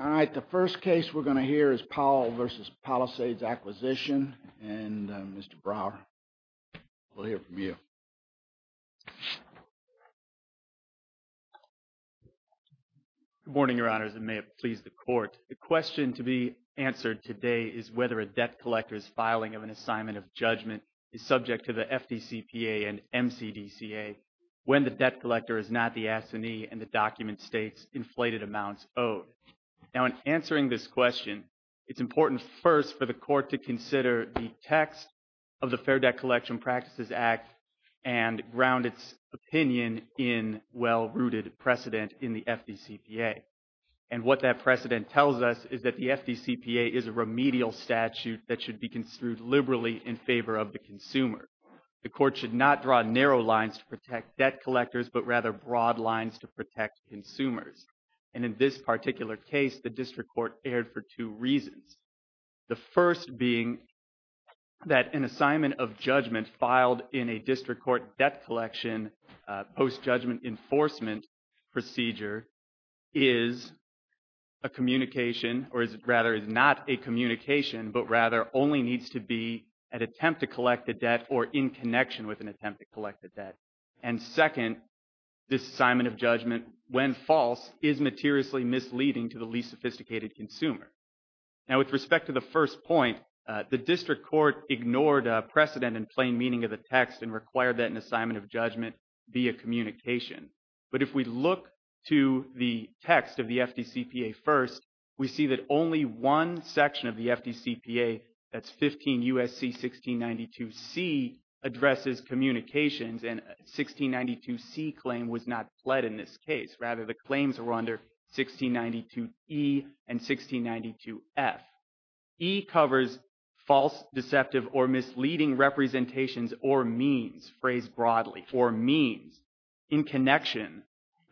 All right, the first case we're going to hear is Powell v. Palisades Acquisition, and Mr. Brower, we'll hear from you. Good morning, Your Honors, and may it please the Court. The question to be answered today is whether a debt collector's filing of an assignment of judgment is subject to the FDCPA and MCDCA. When the debt collector is not the absentee and the document states inflated amounts owed. Now, in answering this question, it's important first for the Court to consider the text of the Fair Debt Collection Practices Act and ground its opinion in well-rooted precedent in the FDCPA. And what that precedent tells us is that the FDCPA is a remedial statute that should be construed liberally in favor of the consumer. The Court should not draw narrow lines to protect debt collectors, but rather broad lines to protect consumers. And in this particular case, the District Court erred for two reasons. The first being that an assignment of judgment filed in a District Court debt collection post-judgment enforcement procedure is a communication, or rather is not a communication, but rather only needs to be an attempt to collect the debt or in connection with an attempt to collect the debt. And second, this assignment of judgment, when false, is materially misleading to the least sophisticated consumer. Now, with respect to the first point, the District Court ignored precedent in plain meaning of the text and required that an assignment of judgment be a communication. But if we look to the text of the FDCPA first, we see that only one section of the FDCPA, that's 15 U.S.C. 1692C, addresses communications and 1692C claim was not pled in this case. Rather, the claims were under 1692E and 1692F. E covers false, deceptive, or misleading representations or means, phrased broadly, or means in connection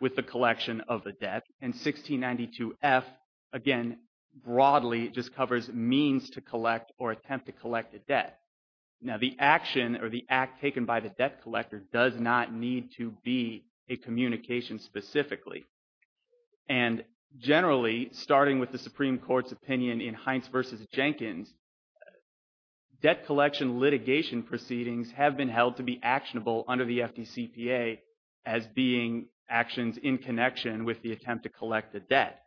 with the collection of the debt. And 1692F, again, broadly just covers means to collect or attempt to collect the debt. Now, the action or the act taken by the debt collector does not need to be a communication specifically. And generally, starting with the Supreme Court's opinion in Hines v. Jenkins, debt collection litigation proceedings have been held to be actionable under the FDCPA as being actions in connection with the attempt to collect the debt.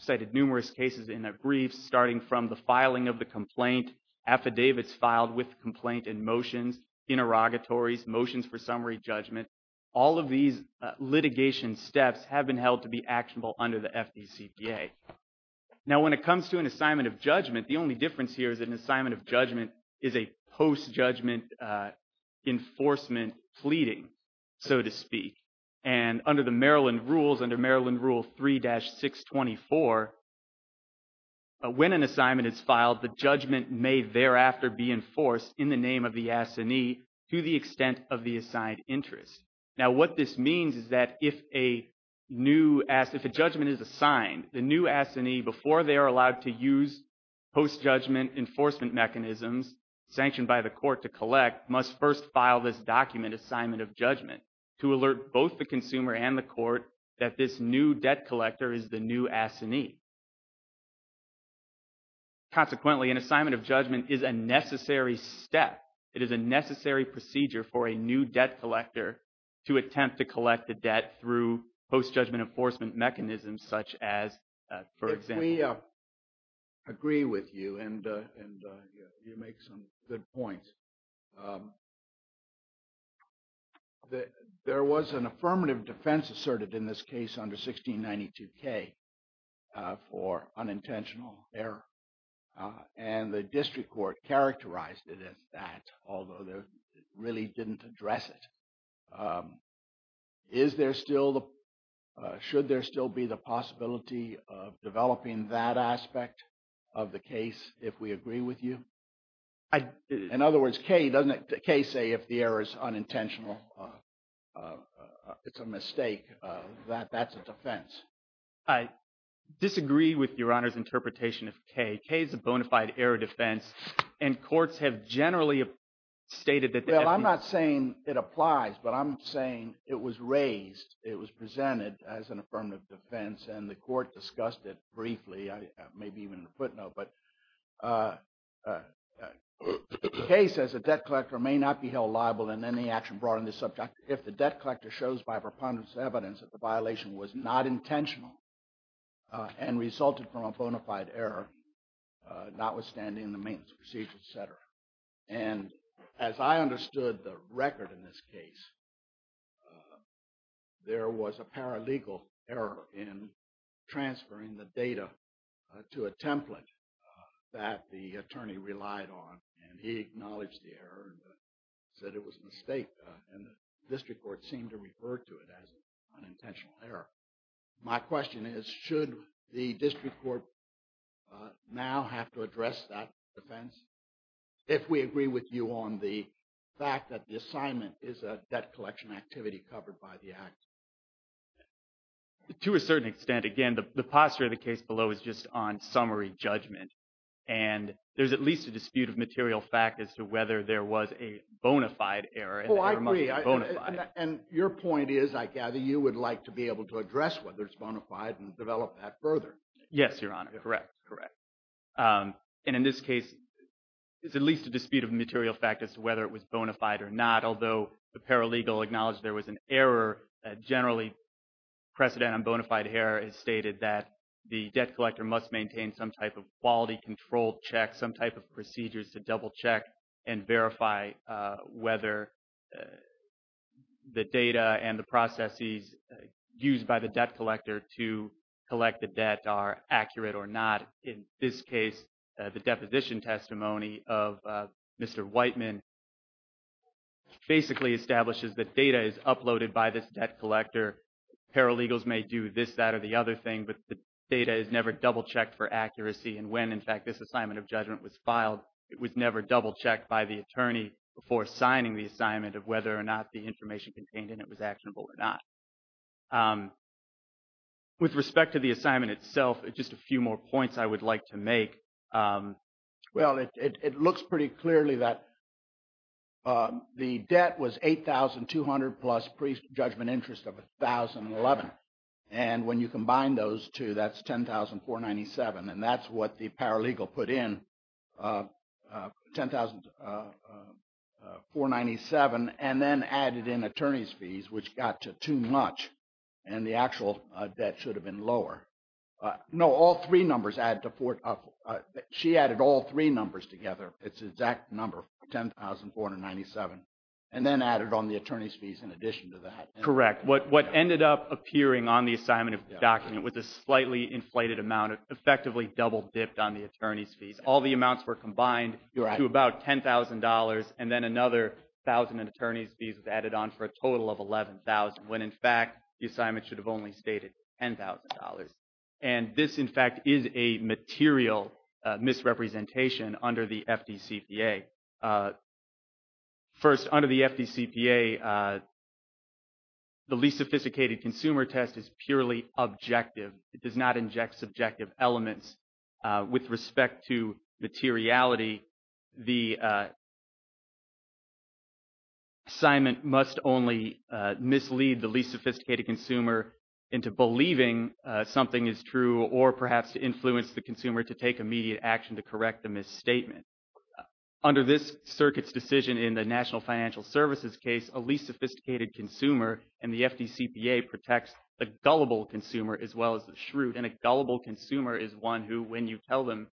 Cited numerous cases in that brief, starting from the filing of the complaint, affidavits filed with the complaint and motions, interrogatories, motions for summary judgment. All of these litigation steps have been held to be actionable under the FDCPA. Now, when it comes to an assignment of judgment, the only difference here is an assignment of judgment is a post-judgment enforcement pleading, so to speak. And under the Maryland rules, under Maryland Rule 3-624, when an assignment is filed, the judgment may thereafter be enforced in the name of the assignee to the extent of the assigned interest. Now, what this means is that if a judgment is assigned, the new assignee, before they are allowed to use post-judgment enforcement mechanisms sanctioned by the court to collect, must first file this document assignment of judgment to alert both the consumer and the court that this new debt collector is the new assignee. Consequently, an assignment of judgment is a necessary step. It is a necessary procedure for a new debt collector to attempt to collect the debt through post-judgment enforcement mechanisms such as, for example. If we agree with you and you make some good points, there was an affirmative defense asserted in this case under 1692K for unintentional error. And the district court characterized it as that, although they really didn't address it. Should there still be the possibility of developing that aspect of the case if we agree with you? In other words, doesn't K say if the error is unintentional, it's a mistake, that that's a defense? I disagree with Your Honor's interpretation of K. K is a bona fide error defense, and courts have generally stated that the FDA. Well, I'm not saying it applies, but I'm saying it was raised, it was presented as an affirmative defense, and the court discussed it briefly, maybe even in a footnote. But K says a debt collector may not be held liable in any action brought on this subject if the debt collector shows by preponderance evidence that the violation was not intentional and resulted from a bona fide error, notwithstanding the maintenance procedures, et cetera. And as I understood the record in this case, there was a paralegal error in transferring the data to a template that the attorney relied on, and he acknowledged the error and said it was a mistake, and the district court seemed to refer to it as an unintentional error. My question is, should the district court now have to address that defense if we agree with you on the fact that the assignment is a debt collection activity covered by the Act? To a certain extent. Again, the posture of the case below is just on summary judgment, and there's at least a dispute of material fact as to whether there was a bona fide error. Oh, I agree. And your point is, I gather you would like to be able to address whether it's bona fide and develop that further. Yes, Your Honor. Correct. Correct. And in this case, there's at least a dispute of material fact as to whether it was bona fide or not, although the paralegal acknowledged there was an error. Generally, precedent on bona fide error is stated that the debt collector must maintain some type of quality control check, some type of procedures to double check and verify whether the data and the processes used by the debt collector to collect the debt are accurate or not. In this case, the deposition testimony of Mr. Whiteman basically establishes that data is uploaded by this debt collector. Paralegals may do this, that, or the other thing, but the data is never double checked for accuracy. And when, in fact, this assignment of judgment was filed, it was never double checked by the attorney before signing the assignment of whether or not the information contained in it was actionable or not. With respect to the assignment itself, just a few more points I would like to make. Well, it looks pretty clearly that the debt was $8,200 plus pre-judgment interest of $1,011. And when you combine those two, that's $10,497. And that's what the paralegal put in, $10,497, and then added in attorney's fees, which got to too much. And the actual debt should have been lower. No, all three numbers add to four. She added all three numbers together. It's the exact number, $10,497, and then added on the attorney's fees in addition to that. Correct. What ended up appearing on the assignment of the document was a slightly inflated amount, effectively double dipped on the attorney's fees. All the amounts were combined to about $10,000. And then another $1,000 in attorney's fees was added on for a total of $11,000, when, in fact, the assignment should have only stated $10,000. And this, in fact, is a material misrepresentation under the FDCPA. First, under the FDCPA, the least sophisticated consumer test is purely objective. It does not inject subjective elements with respect to materiality. The assignment must only mislead the least sophisticated consumer into believing something is true or perhaps to influence the consumer to take immediate action to correct the misstatement. Under this circuit's decision in the National Financial Services case, a least sophisticated consumer in the FDCPA protects the gullible consumer as well as the shrewd. And a gullible consumer is one who, when you tell them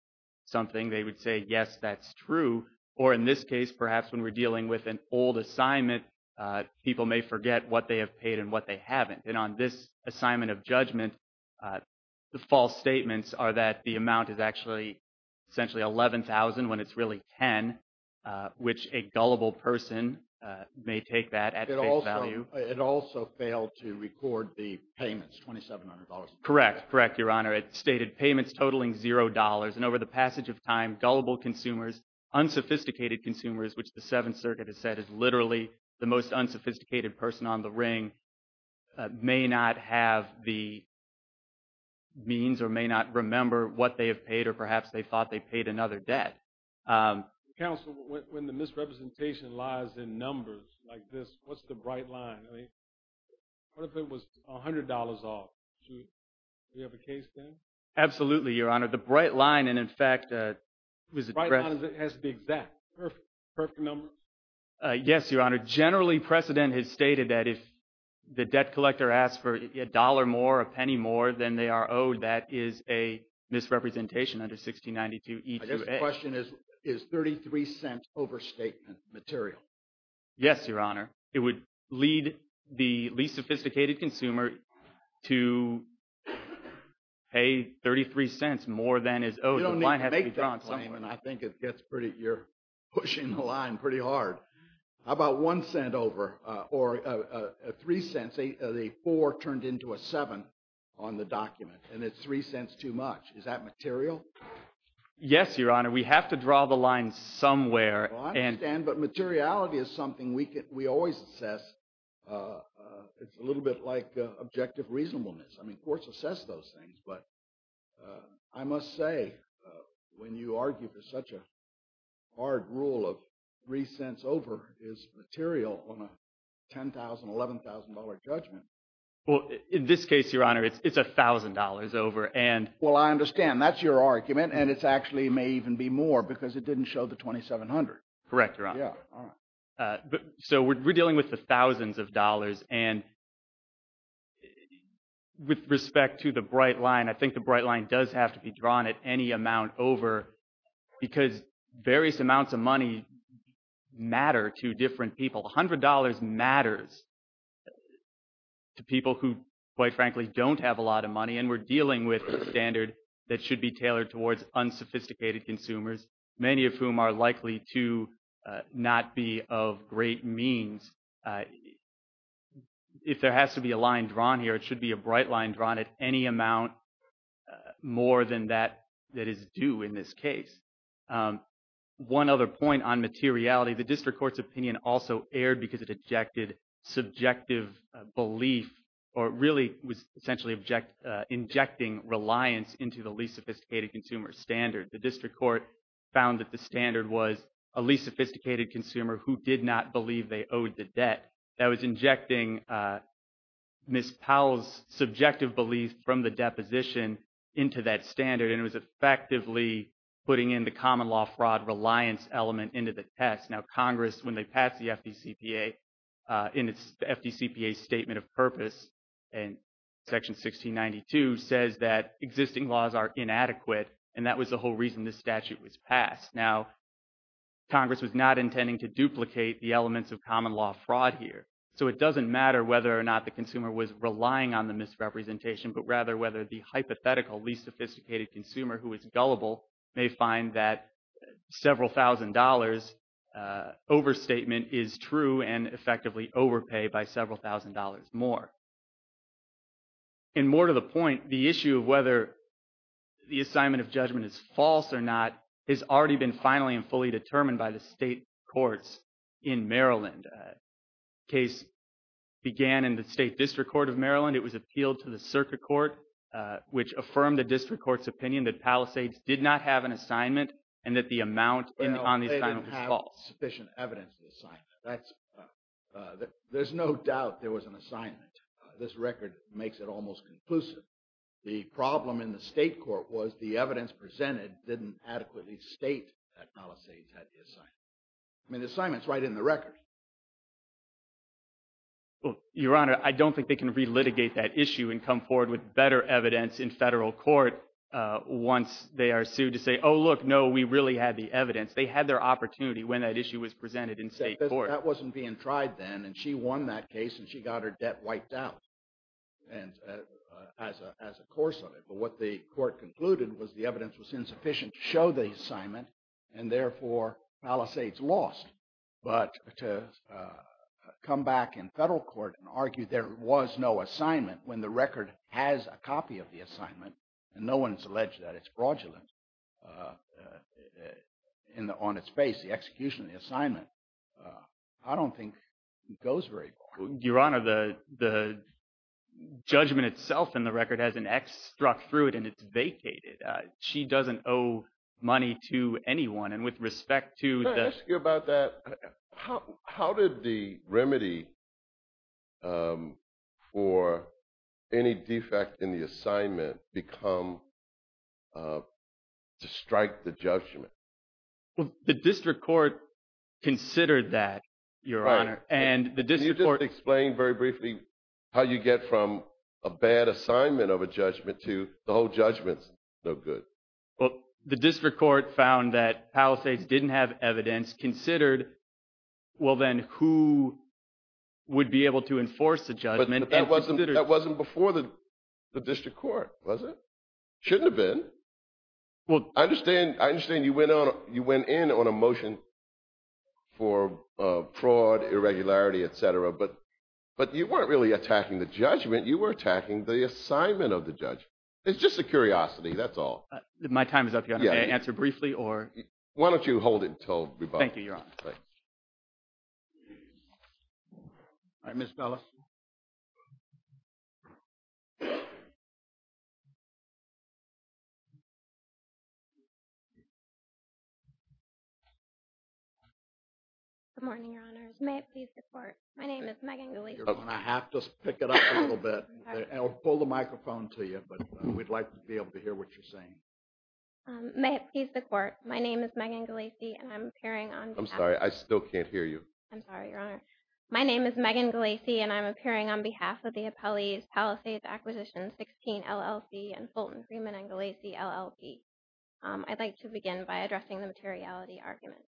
something, they would say, yes, that's true. Or in this case, perhaps when we're dealing with an old assignment, people may forget what they have paid and what they haven't. And on this assignment of judgment, the false statements are that the amount is actually essentially $11,000 when it's really $10,000, which a gullible person may take that at face value. It also failed to record the payments, $2,700. Correct. Correct, Your Honor. It stated payments totaling $0. And over the passage of time, gullible consumers, unsophisticated consumers, which the Seventh Circuit has said is literally the most unsophisticated person on the ring, may not have the means or may not remember what they have paid or perhaps they thought they paid another debt. Counsel, when the misrepresentation lies in numbers like this, what's the bright line? What if it was $100 off? Absolutely, Your Honor. The bright line, and in fact, it was a… The bright line has to be exact. Perfect number? Yes, Your Honor. Generally, precedent has stated that if the debt collector asks for a dollar more, a penny more than they are owed, that is a misrepresentation under 1692E2A. I guess the question is, is $0.33 overstatement material? Yes, Your Honor. It would lead the least sophisticated consumer to pay $0.33 more than is owed. You don't need to make that claim, and I think you're pushing the line pretty hard. How about $0.01 over or $0.03? The 4 turned into a 7 on the document, and it's $0.03 too much. Is that material? Yes, Your Honor. We have to draw the line somewhere. I understand, but materiality is something we always assess. It's a little bit like objective reasonableness. I mean, courts assess those things, but I must say, when you argue for such a hard rule of $0.03 over is material on a $10,000, $11,000 judgment. Well, in this case, Your Honor, it's $1,000 over, and… Well, I understand. That's your argument, and it actually may even be more because it didn't show the $2,700. Correct, Your Honor. Yeah, all right. So we're dealing with the thousands of dollars, and with respect to the bright line, I think the bright line does have to be drawn at any amount over because various amounts of money matter to different people. $100 matters to people who, quite frankly, don't have a lot of money, and we're dealing with a standard that should be tailored towards unsophisticated consumers, many of whom are likely to not be of great means. If there has to be a line drawn here, it should be a bright line drawn at any amount more than that that is due in this case. One other point on materiality, the district court's opinion also erred because it objected subjective belief or really was essentially injecting reliance into the least sophisticated consumer standard. The district court found that the standard was a least sophisticated consumer who did not believe they owed the debt. That was injecting Ms. Powell's subjective belief from the deposition into that standard, and it was effectively putting in the common law fraud reliance element into the test. Now, Congress, when they passed the FDCPA in its FDCPA Statement of Purpose in Section 1692, says that existing laws are inadequate, and that was the whole reason this statute was passed. Now, Congress was not intending to duplicate the elements of common law fraud here, so it doesn't matter whether or not the consumer was relying on the misrepresentation, but rather whether the hypothetical least sophisticated consumer who is gullible may find that several thousand dollars overstatement is true and effectively overpay by several thousand dollars more. And more to the point, the issue of whether the assignment of judgment is false or not has already been finally and fully determined by the state courts in Maryland. The case began in the state district court of Maryland. It was appealed to the circuit court, which affirmed the district court's opinion that Palisades did not have an assignment and that the amount on the assignment was false. Well, they didn't have sufficient evidence of the assignment. There's no doubt there was an assignment. This record makes it almost conclusive. The problem in the state court was the evidence presented didn't adequately state that Palisades had the assignment. I mean, the assignment's right in the record. Your Honor, I don't think they can relitigate that issue and come forward with better evidence in federal court once they are sued to say, oh, look, no, we really had the evidence. They had their opportunity when that issue was presented in state court. That wasn't being tried then, and she won that case, and she got her debt wiped out as a course of it. But what the court concluded was the evidence was insufficient to show the assignment, and therefore, Palisades lost. But to come back in federal court and argue there was no assignment when the record has a copy of the assignment, and no one has alleged that it's fraudulent on its face, the execution of the assignment, I don't think it goes very far. Your Honor, the judgment itself in the record has an X struck through it, and it's vacated. She doesn't owe money to anyone. And with respect to the — Can I ask you about that? How did the remedy for any defect in the assignment become to strike the judgment? The district court considered that, Your Honor. Can you just explain very briefly how you get from a bad assignment of a judgment to the whole judgment's no good? Well, the district court found that Palisades didn't have evidence, considered, well, then, who would be able to enforce the judgment and considered — But that wasn't before the district court, was it? Shouldn't have been. I understand you went in on a motion for fraud, irregularity, et cetera, but you weren't really attacking the judgment. You were attacking the assignment of the judgment. It's just a curiosity. That's all. My time is up, Your Honor. May I answer briefly? Why don't you hold it until rebuttal? Thank you, Your Honor. All right, Ms. Palisades. Good morning, Your Honors. May it please the Court, my name is Megan Galese. You're going to have to pick it up a little bit. I'll pull the microphone to you, but we'd like to be able to hear what you're saying. May it please the Court, my name is Megan Galese, and I'm appearing on behalf of — I'm sorry, I still can't hear you. I'm sorry, Your Honor. My name is Megan Galese, and I'm appearing on behalf of the appellees Palisades Acquisition 16 LLC and Fulton Freeman and Galese LLP. I'd like to begin by addressing the materiality argument.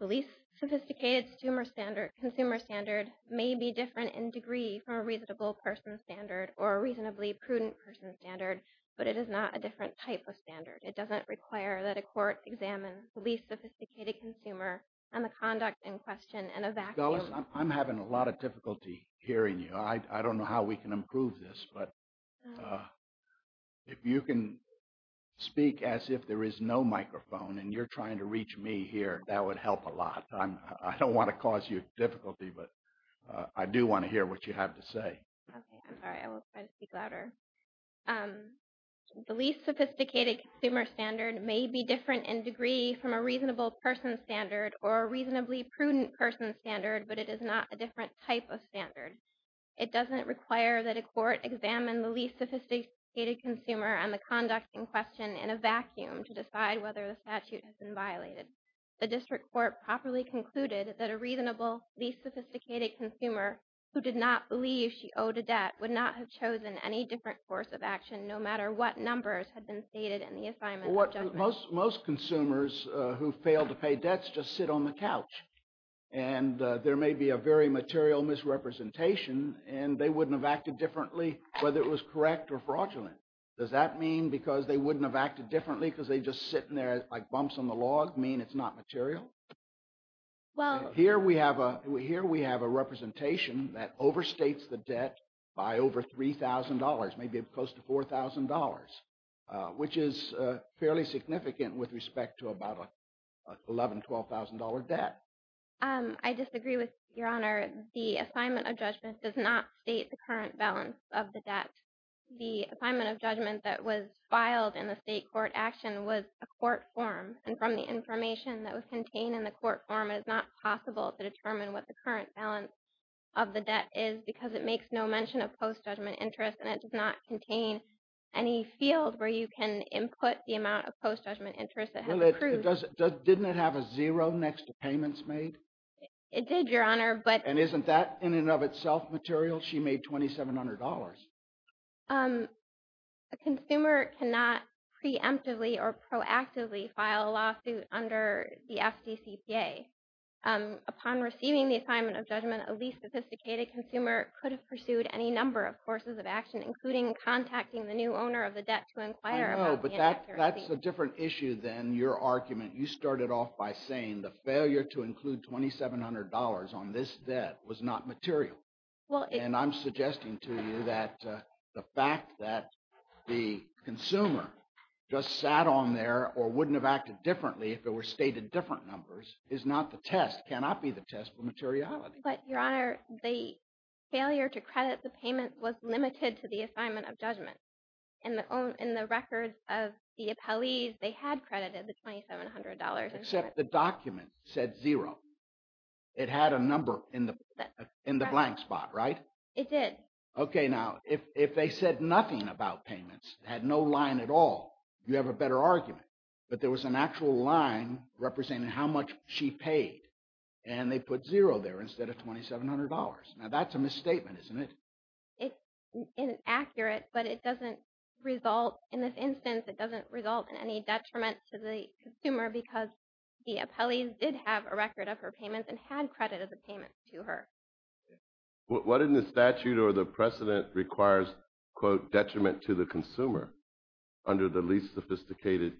The least sophisticated consumer standard may be different in degree from a reasonable person standard or a reasonably prudent person standard, but it is not a different type of standard. It doesn't require that a court examine the least sophisticated consumer and the conduct in question and a vacuum — Galese, I'm having a lot of difficulty hearing you. I don't know how we can improve this, but if you can speak as if there is no microphone and you're trying to reach me here, that would help a lot. I don't want to cause you difficulty, but I do want to hear what you have to say. Okay, I'm sorry. I will try to speak louder. The least sophisticated consumer standard may be different in degree from a reasonable person standard or a reasonably prudent person standard, but it is not a different type of standard. It doesn't require that a court examine the least sophisticated consumer and the conduct in question in a vacuum to decide whether the statute has been violated. The district court properly concluded that a reasonably least sophisticated consumer who did not believe she owed a debt would not have chosen any different course of action, no matter what numbers had been stated in the assignment of judgment. Most consumers who fail to pay debts just sit on the couch, and there may be a very material misrepresentation, and they wouldn't have acted differently whether it was correct or fraudulent. Does that mean because they wouldn't have acted differently because they just sit in there like bumps on the log mean it's not material? Well, here we have a representation that overstates the debt by over $3,000, maybe close to $4,000, which is fairly significant with respect to about an $11,000, $12,000 debt. I disagree with Your Honor. The assignment of judgment does not state the current balance of the debt. The assignment of judgment that was filed in the state court action was a court form, and from the information that was contained in the court form, it is not possible to determine what the current balance of the debt is because it makes no mention of post-judgment interest, and it does not contain any field where you can input the amount of post-judgment interest that has accrued. Didn't it have a zero next to payments made? It did, Your Honor. And isn't that in and of itself material? She made $2,700. A consumer cannot preemptively or proactively file a lawsuit under the FDCPA. Upon receiving the assignment of judgment, a least-sophisticated consumer could have pursued any number of courses of action, including contacting the new owner of the debt to inquire about the inaccuracy. I know, but that's a different issue than your argument. You started off by saying the failure to include $2,700 on this debt was not material. And I'm suggesting to you that the fact that the consumer just sat on there or wouldn't have acted differently if it were stated different numbers is not the test, cannot be the test for materiality. But, Your Honor, the failure to credit the payment was limited to the assignment of judgment. In the records of the appellees, they had credited the $2,700. Except the document said zero. It had a number in the blank spot, right? It did. Okay, now, if they said nothing about payments, had no line at all, you have a better argument. But there was an actual line representing how much she paid. And they put zero there instead of $2,700. Now, that's a misstatement, isn't it? It's inaccurate, but it doesn't result, in this instance, it doesn't result in any detriment to the consumer because the appellees did have a record of her payments and had credited the payments to her. What in the statute or the precedent requires, quote, detriment to the consumer under the least sophisticated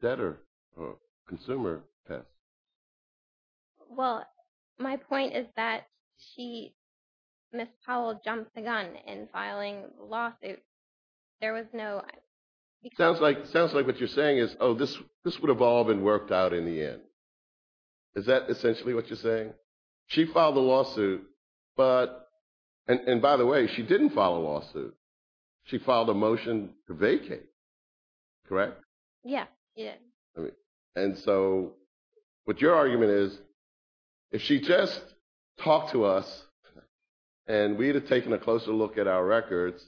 debtor or consumer test? Well, my point is that she, Ms. Powell, jumped the gun in filing the lawsuit. Sounds like what you're saying is, oh, this would have all been worked out in the end. Is that essentially what you're saying? She filed the lawsuit, and by the way, she didn't file a lawsuit. She filed a motion to vacate, correct? Yeah, she did. And so what your argument is, if she just talked to us and we had taken a closer look at our records,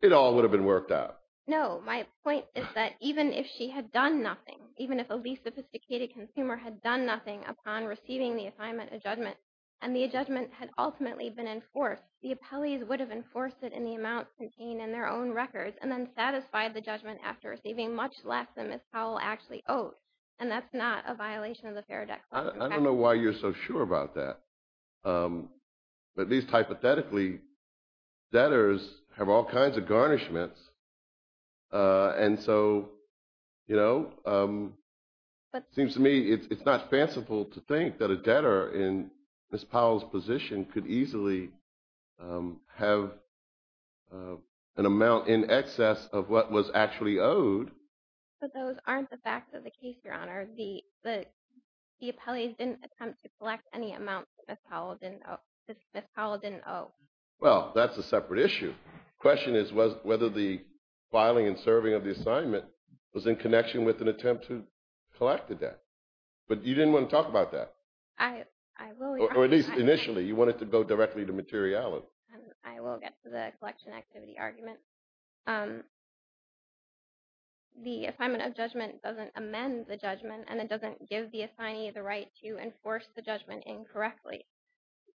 it all would have been worked out. No, my point is that even if she had done nothing, even if a least sophisticated consumer had done nothing upon receiving the assignment of judgment and the judgment had ultimately been enforced, the appellees would have enforced it in the amount contained in their own records and then satisfied the judgment after receiving much less than Ms. Powell actually owed. And that's not a violation of the Fair Debt Clause. I don't know why you're so sure about that. But at least hypothetically, debtors have all kinds of garnishments. And so it seems to me it's not fanciful to think that a debtor in Ms. Powell's position could easily have an amount in excess of what was actually owed. But those aren't the facts of the case, Your Honor. The appellees didn't attempt to collect any amount that Ms. Powell didn't owe. Well, that's a separate issue. The question is whether the filing and serving of the assignment was in connection with an attempt to collect the debt. But you didn't want to talk about that. Or at least initially, you wanted to go directly to materiality. I will get to the collection activity argument. The assignment of judgment doesn't amend the judgment, and it doesn't give the assignee the right to enforce the judgment incorrectly.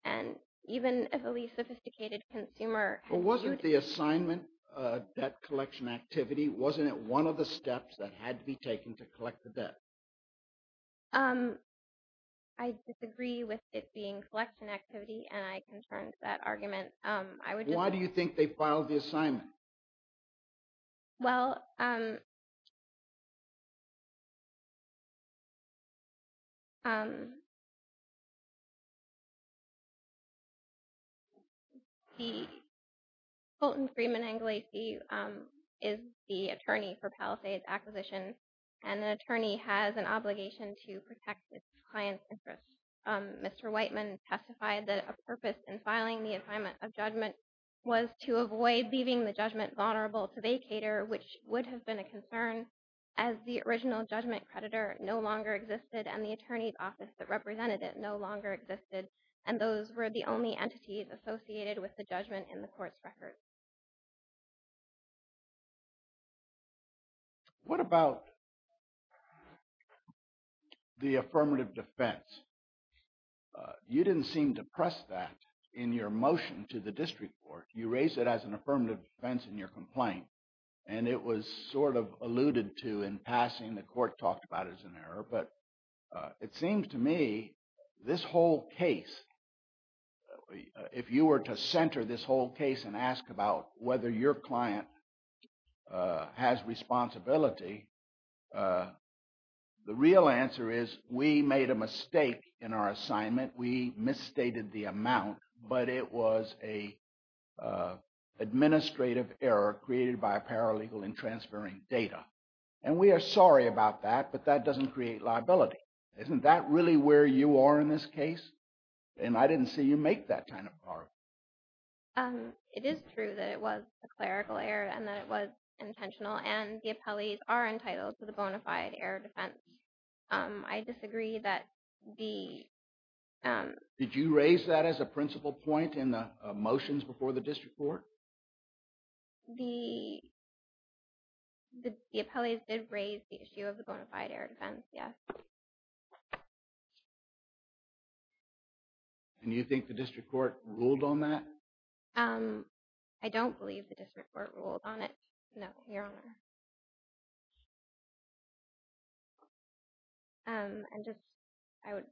And even a really sophisticated consumer had to do it. Well, wasn't the assignment debt collection activity, wasn't it one of the steps that had to be taken to collect the debt? I disagree with it being collection activity, and I can turn to that argument. Why do you think they filed the assignment? Well, Colton Freeman Anglici is the attorney for Palisades Acquisition, and the attorney has an obligation to protect his client's interests. Mr. Whiteman testified that a purpose in filing the assignment of judgment was to avoid leaving the judgment vulnerable to vacator, which would have been a concern as the original judgment creditor no longer existed and the attorney's office that represented it no longer existed. And those were the only entities associated with the judgment in the court's record. What about the affirmative defense? You didn't seem to press that in your motion to the district court. You raised it as an affirmative defense in your complaint, and it was sort of alluded to in passing. The court talked about it as an error. But it seems to me this whole case, if you were to center this whole case and ask about whether your client has responsibility, the real answer is we made a mistake in our assignment. We misstated the amount, but it was an administrative error created by a paralegal in transferring data. And we are sorry about that, but that doesn't create liability. Isn't that really where you are in this case? And I didn't see you make that kind of argument. It is true that it was a clerical error and that it was intentional, and the appellees are entitled to the bona fide error defense. I disagree that the – Did you raise that as a principal point in the motions before the district court? The appellees did raise the issue of the bona fide error defense, yes. And you think the district court ruled on that? I don't believe the district court ruled on it, no, Your Honor. And just, I would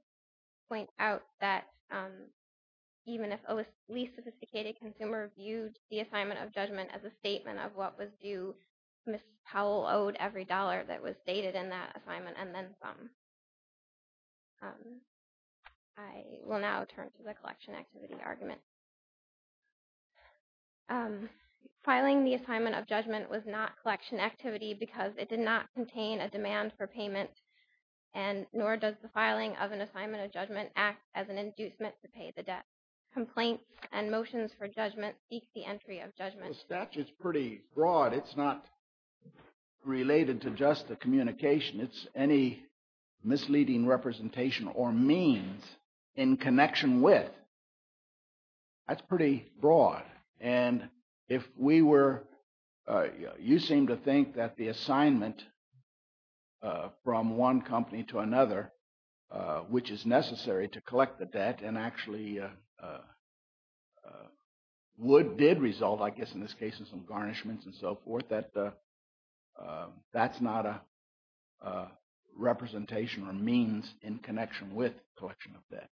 point out that even if a least sophisticated consumer viewed the assignment of judgment as a statement of what was due, Ms. Powell owed every dollar that was dated in that assignment and then some. I will now turn to the collection activity argument. Filing the assignment of judgment was not collection activity because it did not contain a demand for payment, nor does the filing of an assignment of judgment act as an inducement to pay the debt. Complaints and motions for judgment seek the entry of judgment. Well, the statute is pretty broad. It's not related to just the communication. It's any misleading representation or means in connection with. That's pretty broad. And if we were – you seem to think that the assignment from one company to another, which is necessary to collect the debt and actually would – did result, I guess in this case, in some garnishments and so forth, that that's not a representation or means in connection with collection of debt.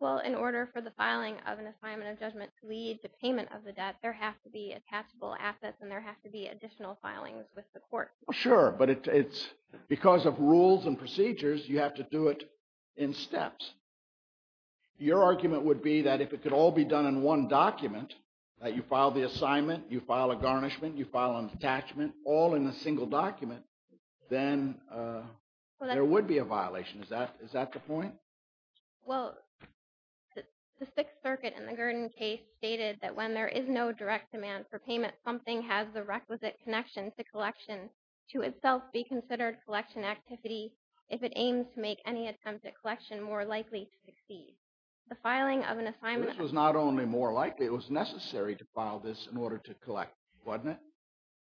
Well, in order for the filing of an assignment of judgment to lead to payment of the debt, there have to be attachable assets and there have to be additional filings with the court. Sure, but it's – because of rules and procedures, you have to do it in steps. Your argument would be that if it could all be done in one document, that you file the assignment, you file a garnishment, you file an attachment, all in a single document, then there would be a violation. Is that the point? Well, the Sixth Circuit in the Gurdon case stated that when there is no direct demand for payment, something has the requisite connection to collection to itself be considered collection activity if it aims to make any attempt at collection more likely to succeed. The filing of an assignment… This was not only more likely. It was necessary to file this in order to collect, wasn't it?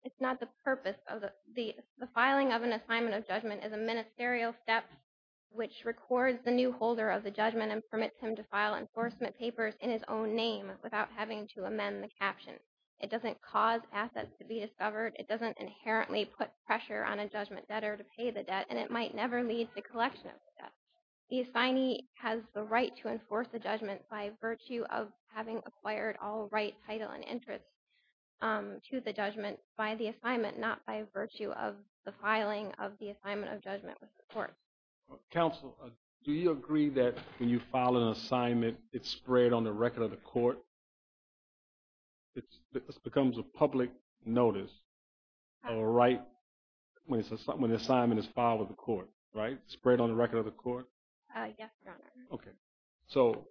It's not the purpose of the – the filing of an assignment of judgment is a ministerial step which records the new holder of the judgment and permits him to file enforcement papers in his own name without having to amend the caption. It doesn't cause assets to be discovered. It doesn't inherently put pressure on a judgment debtor to pay the debt, and it might never lead to collection of the debt. The assignee has the right to enforce the judgment by virtue of having acquired all right, title, and interest to the judgment by the assignment, not by virtue of the filing of the assignment of judgment with the court. Counsel, do you agree that when you file an assignment, it's spread on the record of the court? It becomes a public notice of a right when the assignment is filed with the court, right? Spread on the record of the court? Yes, Your Honor. Okay. So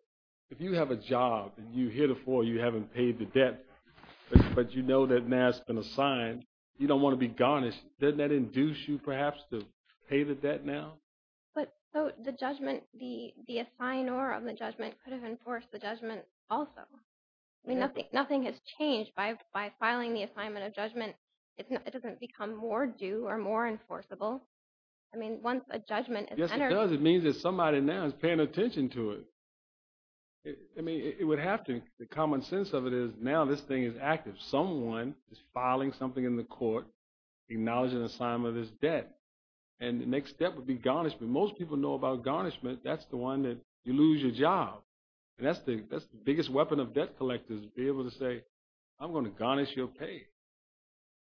if you have a job and you hear the floor, you haven't paid the debt, but you know that now it's been assigned, you don't want to be garnished, doesn't that induce you perhaps to pay the debt now? But so the judgment, the assignor of the judgment could have enforced the judgment also. I mean, nothing has changed by filing the assignment of judgment. It doesn't become more due or more enforceable. I mean, once a judgment is entered… Yes, it does. It means that somebody now is paying attention to it. I mean, it would have to. The common sense of it is now this thing is active. If someone is filing something in the court, acknowledging the assignment is debt, and the next step would be garnishment. Most people know about garnishment. That's the one that you lose your job. And that's the biggest weapon of debt collectors, to be able to say, I'm going to garnish your pay.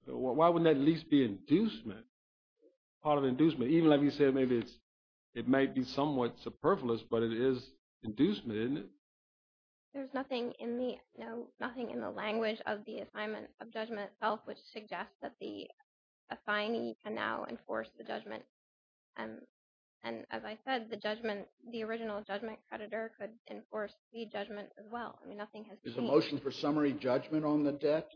Why wouldn't that at least be inducement? Part of inducement. Even like you said, maybe it might be somewhat superfluous, but it is inducement, isn't it? There's nothing in the language of the assignment of judgment itself which suggests that the assignee can now enforce the judgment. And as I said, the judgment, the original judgment creditor could enforce the judgment as well. I mean, nothing has changed. The motion for summary judgment on the debt,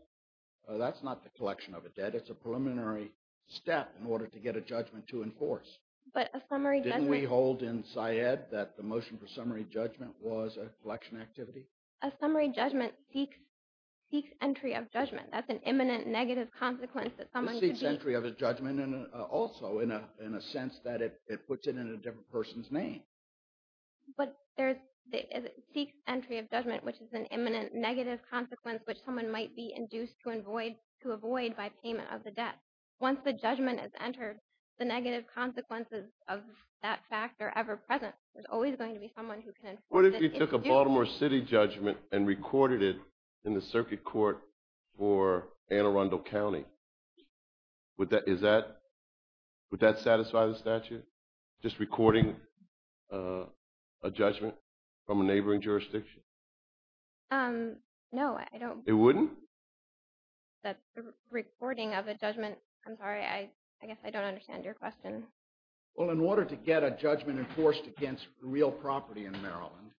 that's not the collection of a debt. It's a preliminary step in order to get a judgment to enforce. Didn't we hold in Syed that the motion for summary judgment was a collection activity? A summary judgment seeks entry of judgment. That's an imminent negative consequence that someone could be… It seeks entry of a judgment also, in a sense that it puts it in a different person's name. But it seeks entry of judgment, which is an imminent negative consequence which someone might be induced to avoid by payment of the debt. Once the judgment is entered, the negative consequences of that fact are ever present. There's always going to be someone who can enforce it. What if you took a Baltimore City judgment and recorded it in the circuit court for Anne Arundel County? Would that satisfy the statute, just recording a judgment from a neighboring jurisdiction? No, I don't… It wouldn't? The recording of a judgment… I'm sorry, I guess I don't understand your question. Well, in order to get a judgment enforced against real property in Maryland,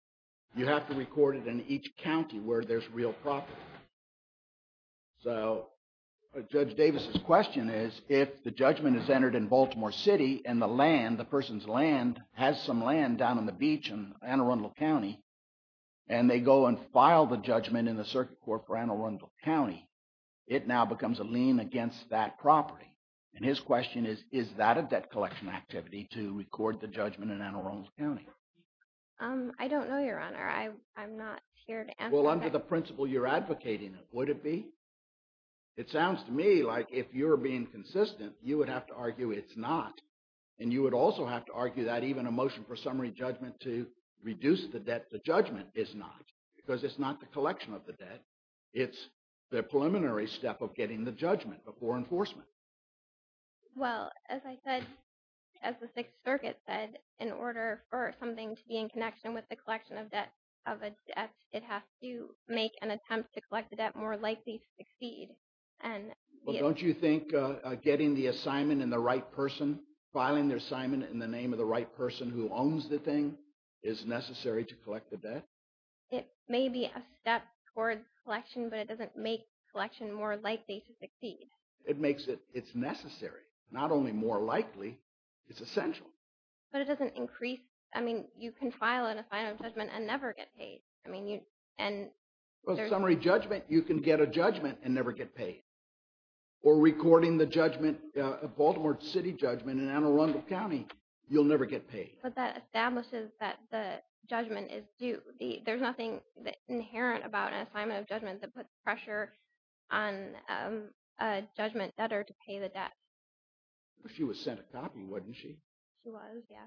you have to record it in each county where there's real property. So Judge Davis' question is, if the judgment is entered in Baltimore City and the land, the person's land has some land down on the beach in Anne Arundel County, and they go and file the judgment in the circuit court for Anne Arundel County, it now becomes a lien against that property. And his question is, is that a debt collection activity to record the judgment in Anne Arundel County? I don't know, Your Honor. I'm not here to answer that. Well, under the principle you're advocating, would it be? It sounds to me like if you're being consistent, you would have to argue it's not. And you would also have to argue that even a motion for summary judgment to reduce the debt to judgment is not, because it's not the collection of the debt. It's the preliminary step of getting the judgment before enforcement. Well, as I said, as the Sixth Circuit said, in order for something to be in connection with the collection of a debt, it has to make an attempt to collect the debt more likely to succeed. Well, don't you think getting the assignment in the right person, filing their assignment in the name of the right person who owns the thing is necessary to collect the debt? It may be a step towards collection, but it doesn't make collection more likely to succeed. It makes it, it's necessary, not only more likely, it's essential. But it doesn't increase, I mean, you can file an assignment of judgment and never get paid. Well, summary judgment, you can get a judgment and never get paid. Or recording the judgment, Baltimore City judgment in Anne Arundel County, you'll never get paid. But that establishes that the judgment is due. There's nothing inherent about an assignment of judgment that puts pressure on a judgment debtor to pay the debt. She was sent a copy, wasn't she? She was, yeah.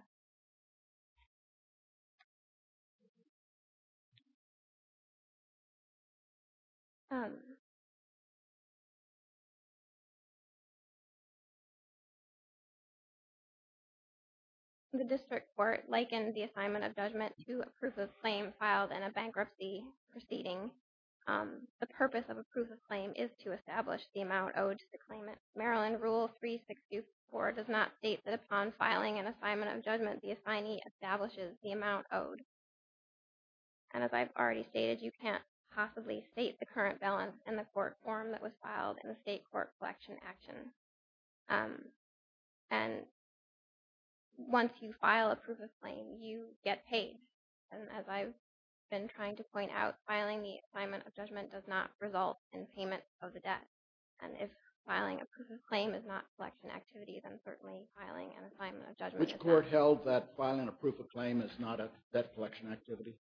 The district court likened the assignment of judgment to a proof of claim filed in a bankruptcy proceeding. The purpose of a proof of claim is to establish the amount owed to the claimant. Maryland Rule 3624 does not state that upon filing an assignment of judgment, the assignee establishes the amount owed. And as I've already stated, you can't possibly state the current balance in the court form that was filed in the state court collection action. And once you file a proof of claim, you get paid. And as I've been trying to point out, filing the assignment of judgment does not result in payment of the debt. And if filing a proof of claim is not a collection activity, then certainly filing an assignment of judgment is not. Which court held that filing a proof of claim is not a debt collection activity?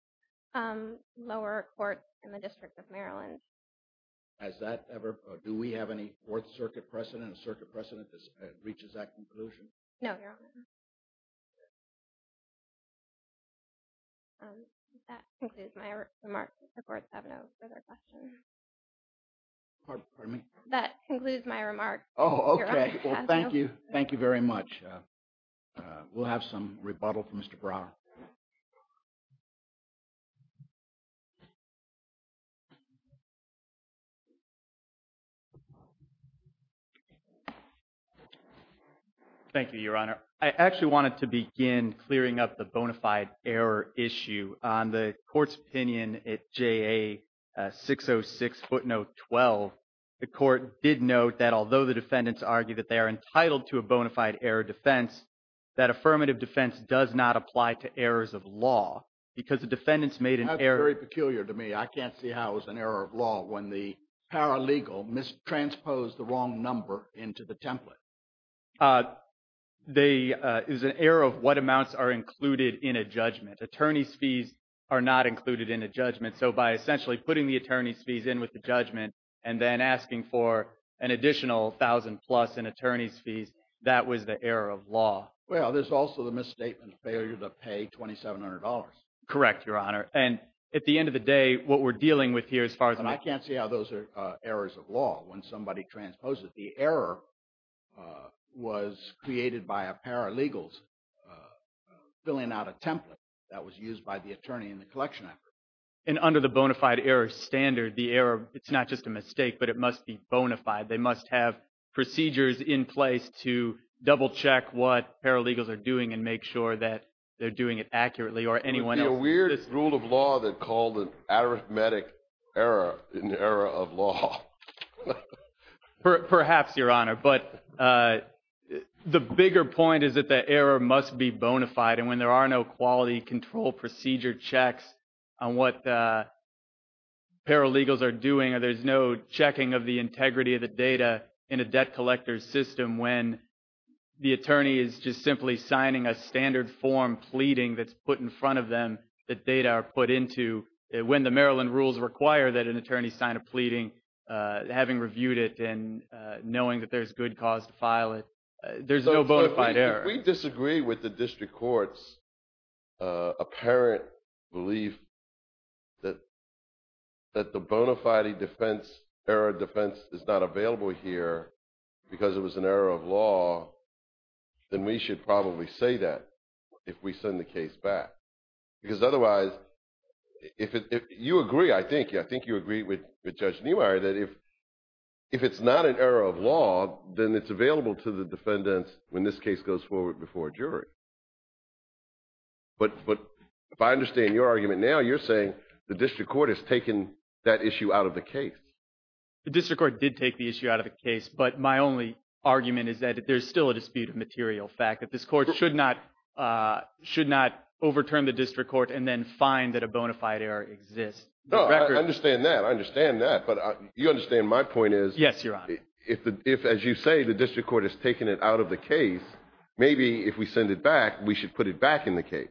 Lower court in the District of Maryland. Has that ever – do we have any Fourth Circuit precedent, a circuit precedent that reaches that conclusion? No, Your Honor. That concludes my remarks. The courts have no further questions. Pardon me? That concludes my remarks, Your Honor. Oh, okay. Well, thank you. Thank you very much. We'll have some rebuttal from Mr. Brower. Thank you, Your Honor. I actually wanted to begin clearing up the bona fide error issue. On the court's opinion at JA 606 footnote 12, the court did note that although the defendants argue that they are entitled to a bona fide error defense, that affirmative defense does not apply to errors of law because the defendants made an error – That's very peculiar to me. I can't see how it was an error of law when the paralegal mistransposed the wrong number into the template. It was an error of what amounts are included in a judgment. Attorney's fees are not included in a judgment. So by essentially putting the attorney's fees in with the judgment and then asking for an additional $1,000 plus in attorney's fees, that was the error of law. Well, there's also the misstatement of failure to pay $2,700. Correct, Your Honor. And at the end of the day, what we're dealing with here as far as – And I can't see how those are errors of law when somebody transposes. The error was created by a paralegal's filling out a template that was used by the attorney in the collection effort. And under the bona fide error standard, the error – it's not just a mistake, but it must be bona fide. They must have procedures in place to double check what paralegals are doing and make sure that they're doing it accurately or anyone else – There's a weird rule of law that called an arithmetic error an error of law. Perhaps, Your Honor. But the bigger point is that the error must be bona fide. And when there are no quality control procedure checks on what paralegals are doing or there's no checking of the integrity of the data in a debt collector's system, when the attorney is just simply signing a standard form pleading that's put in front of them, the data are put into – when the Maryland rules require that an attorney sign a pleading, having reviewed it and knowing that there's good cause to file it, there's no bona fide error. Because it was an error of law, then we should probably say that if we send the case back. Because otherwise – you agree, I think. I think you agree with Judge Neumeyer that if it's not an error of law, then it's available to the defendants when this case goes forward before a jury. But if I understand your argument now, you're saying the district court has taken that issue out of the case. The district court did take the issue out of the case. But my only argument is that there's still a dispute of material fact, that this court should not overturn the district court and then find that a bona fide error exists. No, I understand that. I understand that. But you understand my point is – Yes, Your Honor. If, as you say, the district court has taken it out of the case, maybe if we send it back, we should put it back in the case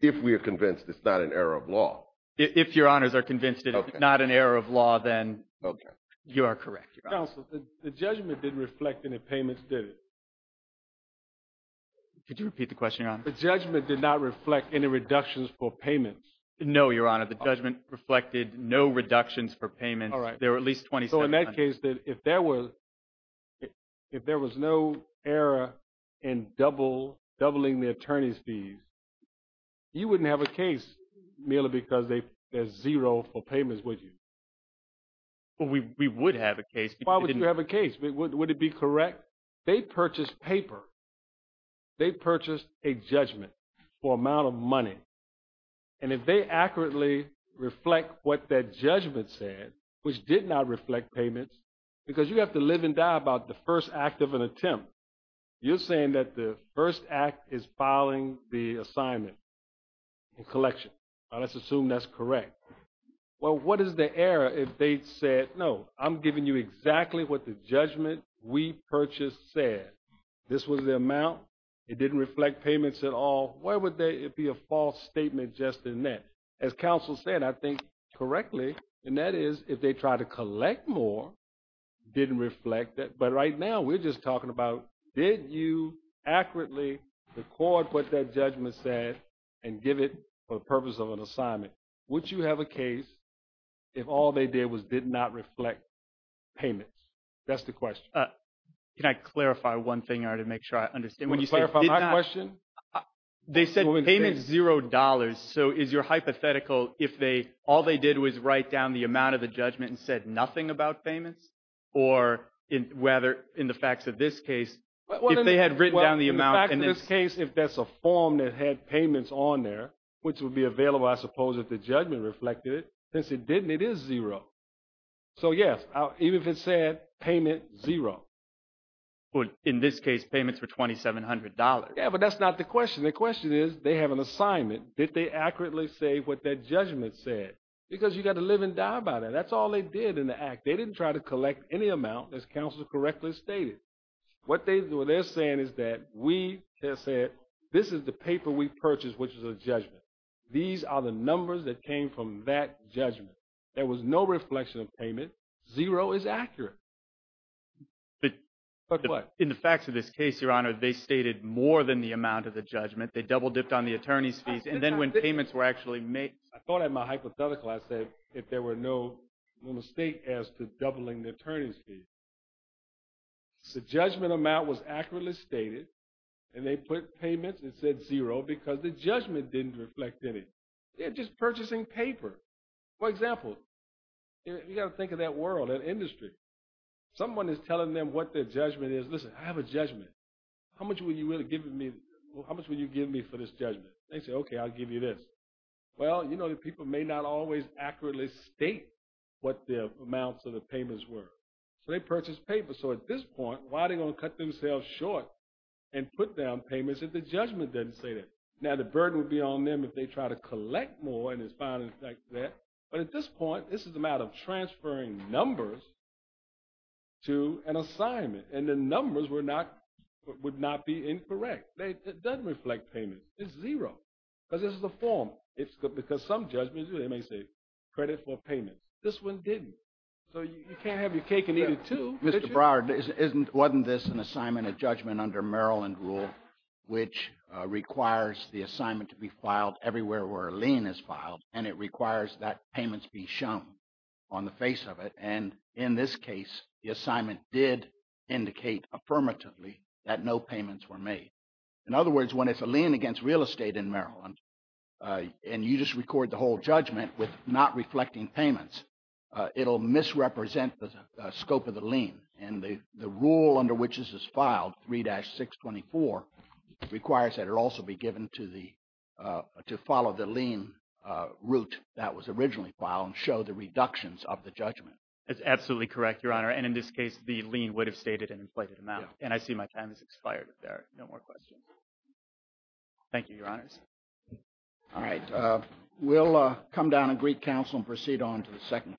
if we are convinced it's not an error of law. If Your Honors are convinced it's not an error of law, then you are correct, Your Honor. Counsel, the judgment didn't reflect any payments, did it? Could you repeat the question, Your Honor? The judgment did not reflect any reductions for payments. No, Your Honor. The judgment reflected no reductions for payments. All right. There were at least 27. So in that case, if there was no error in doubling the attorney's fees, you wouldn't have a case merely because there's zero for payments, would you? We would have a case. Why would you have a case? Would it be correct? They purchased paper. They purchased a judgment for amount of money. And if they accurately reflect what that judgment said, which did not reflect payments, because you have to live and die about the first act of an attempt, you're saying that the first act is filing the assignment in collection. Let's assume that's correct. Well, what is the error if they said, no, I'm giving you exactly what the judgment we purchased said? This was the amount. It didn't reflect payments at all. Why would there be a false statement just in that? As counsel said, I think correctly, and that is if they try to collect more, didn't reflect that. But right now we're just talking about, did you accurately record what that judgment said and give it for the purpose of an assignment? Would you have a case if all they did was did not reflect payments? That's the question. Can I clarify one thing to make sure I understand? Can you clarify my question? They said payment zero dollars. So is your hypothetical if all they did was write down the amount of the judgment and said nothing about payments? Or whether in the facts of this case, if they had written down the amount. In this case, if that's a form that had payments on there, which would be available, I suppose, if the judgment reflected it. Since it didn't, it is zero. So, yes, even if it said payment zero. In this case, payments were $2,700. Yeah, but that's not the question. The question is, they have an assignment. Did they accurately say what that judgment said? Because you've got to live and die by that. That's all they did in the act. They didn't try to collect any amount, as counsel correctly stated. What they're saying is that we said this is the paper we purchased, which is a judgment. These are the numbers that came from that judgment. There was no reflection of payment. Zero is accurate. But in the facts of this case, Your Honor, they stated more than the amount of the judgment. They double dipped on the attorney's fees. I thought in my hypothetical, I said if there were no mistake as to doubling the attorney's fees. The judgment amount was accurately stated, and they put payments and said zero because the judgment didn't reflect any. They're just purchasing paper. For example, you've got to think of that world, that industry. Someone is telling them what their judgment is. Listen, I have a judgment. How much will you give me for this judgment? They say, okay, I'll give you this. Well, you know, the people may not always accurately state what the amounts of the payments were. So they purchased paper. So at this point, why are they going to cut themselves short and put down payments if the judgment doesn't say that? Now, the burden would be on them if they try to collect more, and it's fine in effect there. But at this point, this is a matter of transferring numbers to an assignment, and the numbers would not be incorrect. It doesn't reflect payment. It's zero because this is a form. It's because some judgments, they may say credit for payment. This one didn't. So you can't have your cake and eat it too. Mr. Broward, wasn't this an assignment, a judgment under Maryland rule, which requires the assignment to be filed everywhere where a lien is filed, and it requires that payments be shown on the face of it? And in this case, the assignment did indicate affirmatively that no payments were made. In other words, when it's a lien against real estate in Maryland, and you just record the whole judgment with not reflecting payments, it will misrepresent the scope of the lien, and the rule under which this is filed, 3-624, requires that it also be given to follow the lien route that was originally filed and show the reductions of the judgment. That's absolutely correct, Your Honor, and in this case, the lien would have stated an inflated amount. And I see my time has expired if there are no more questions. Thank you, Your Honors. All right. We'll come down and greet counsel and proceed on to the second case.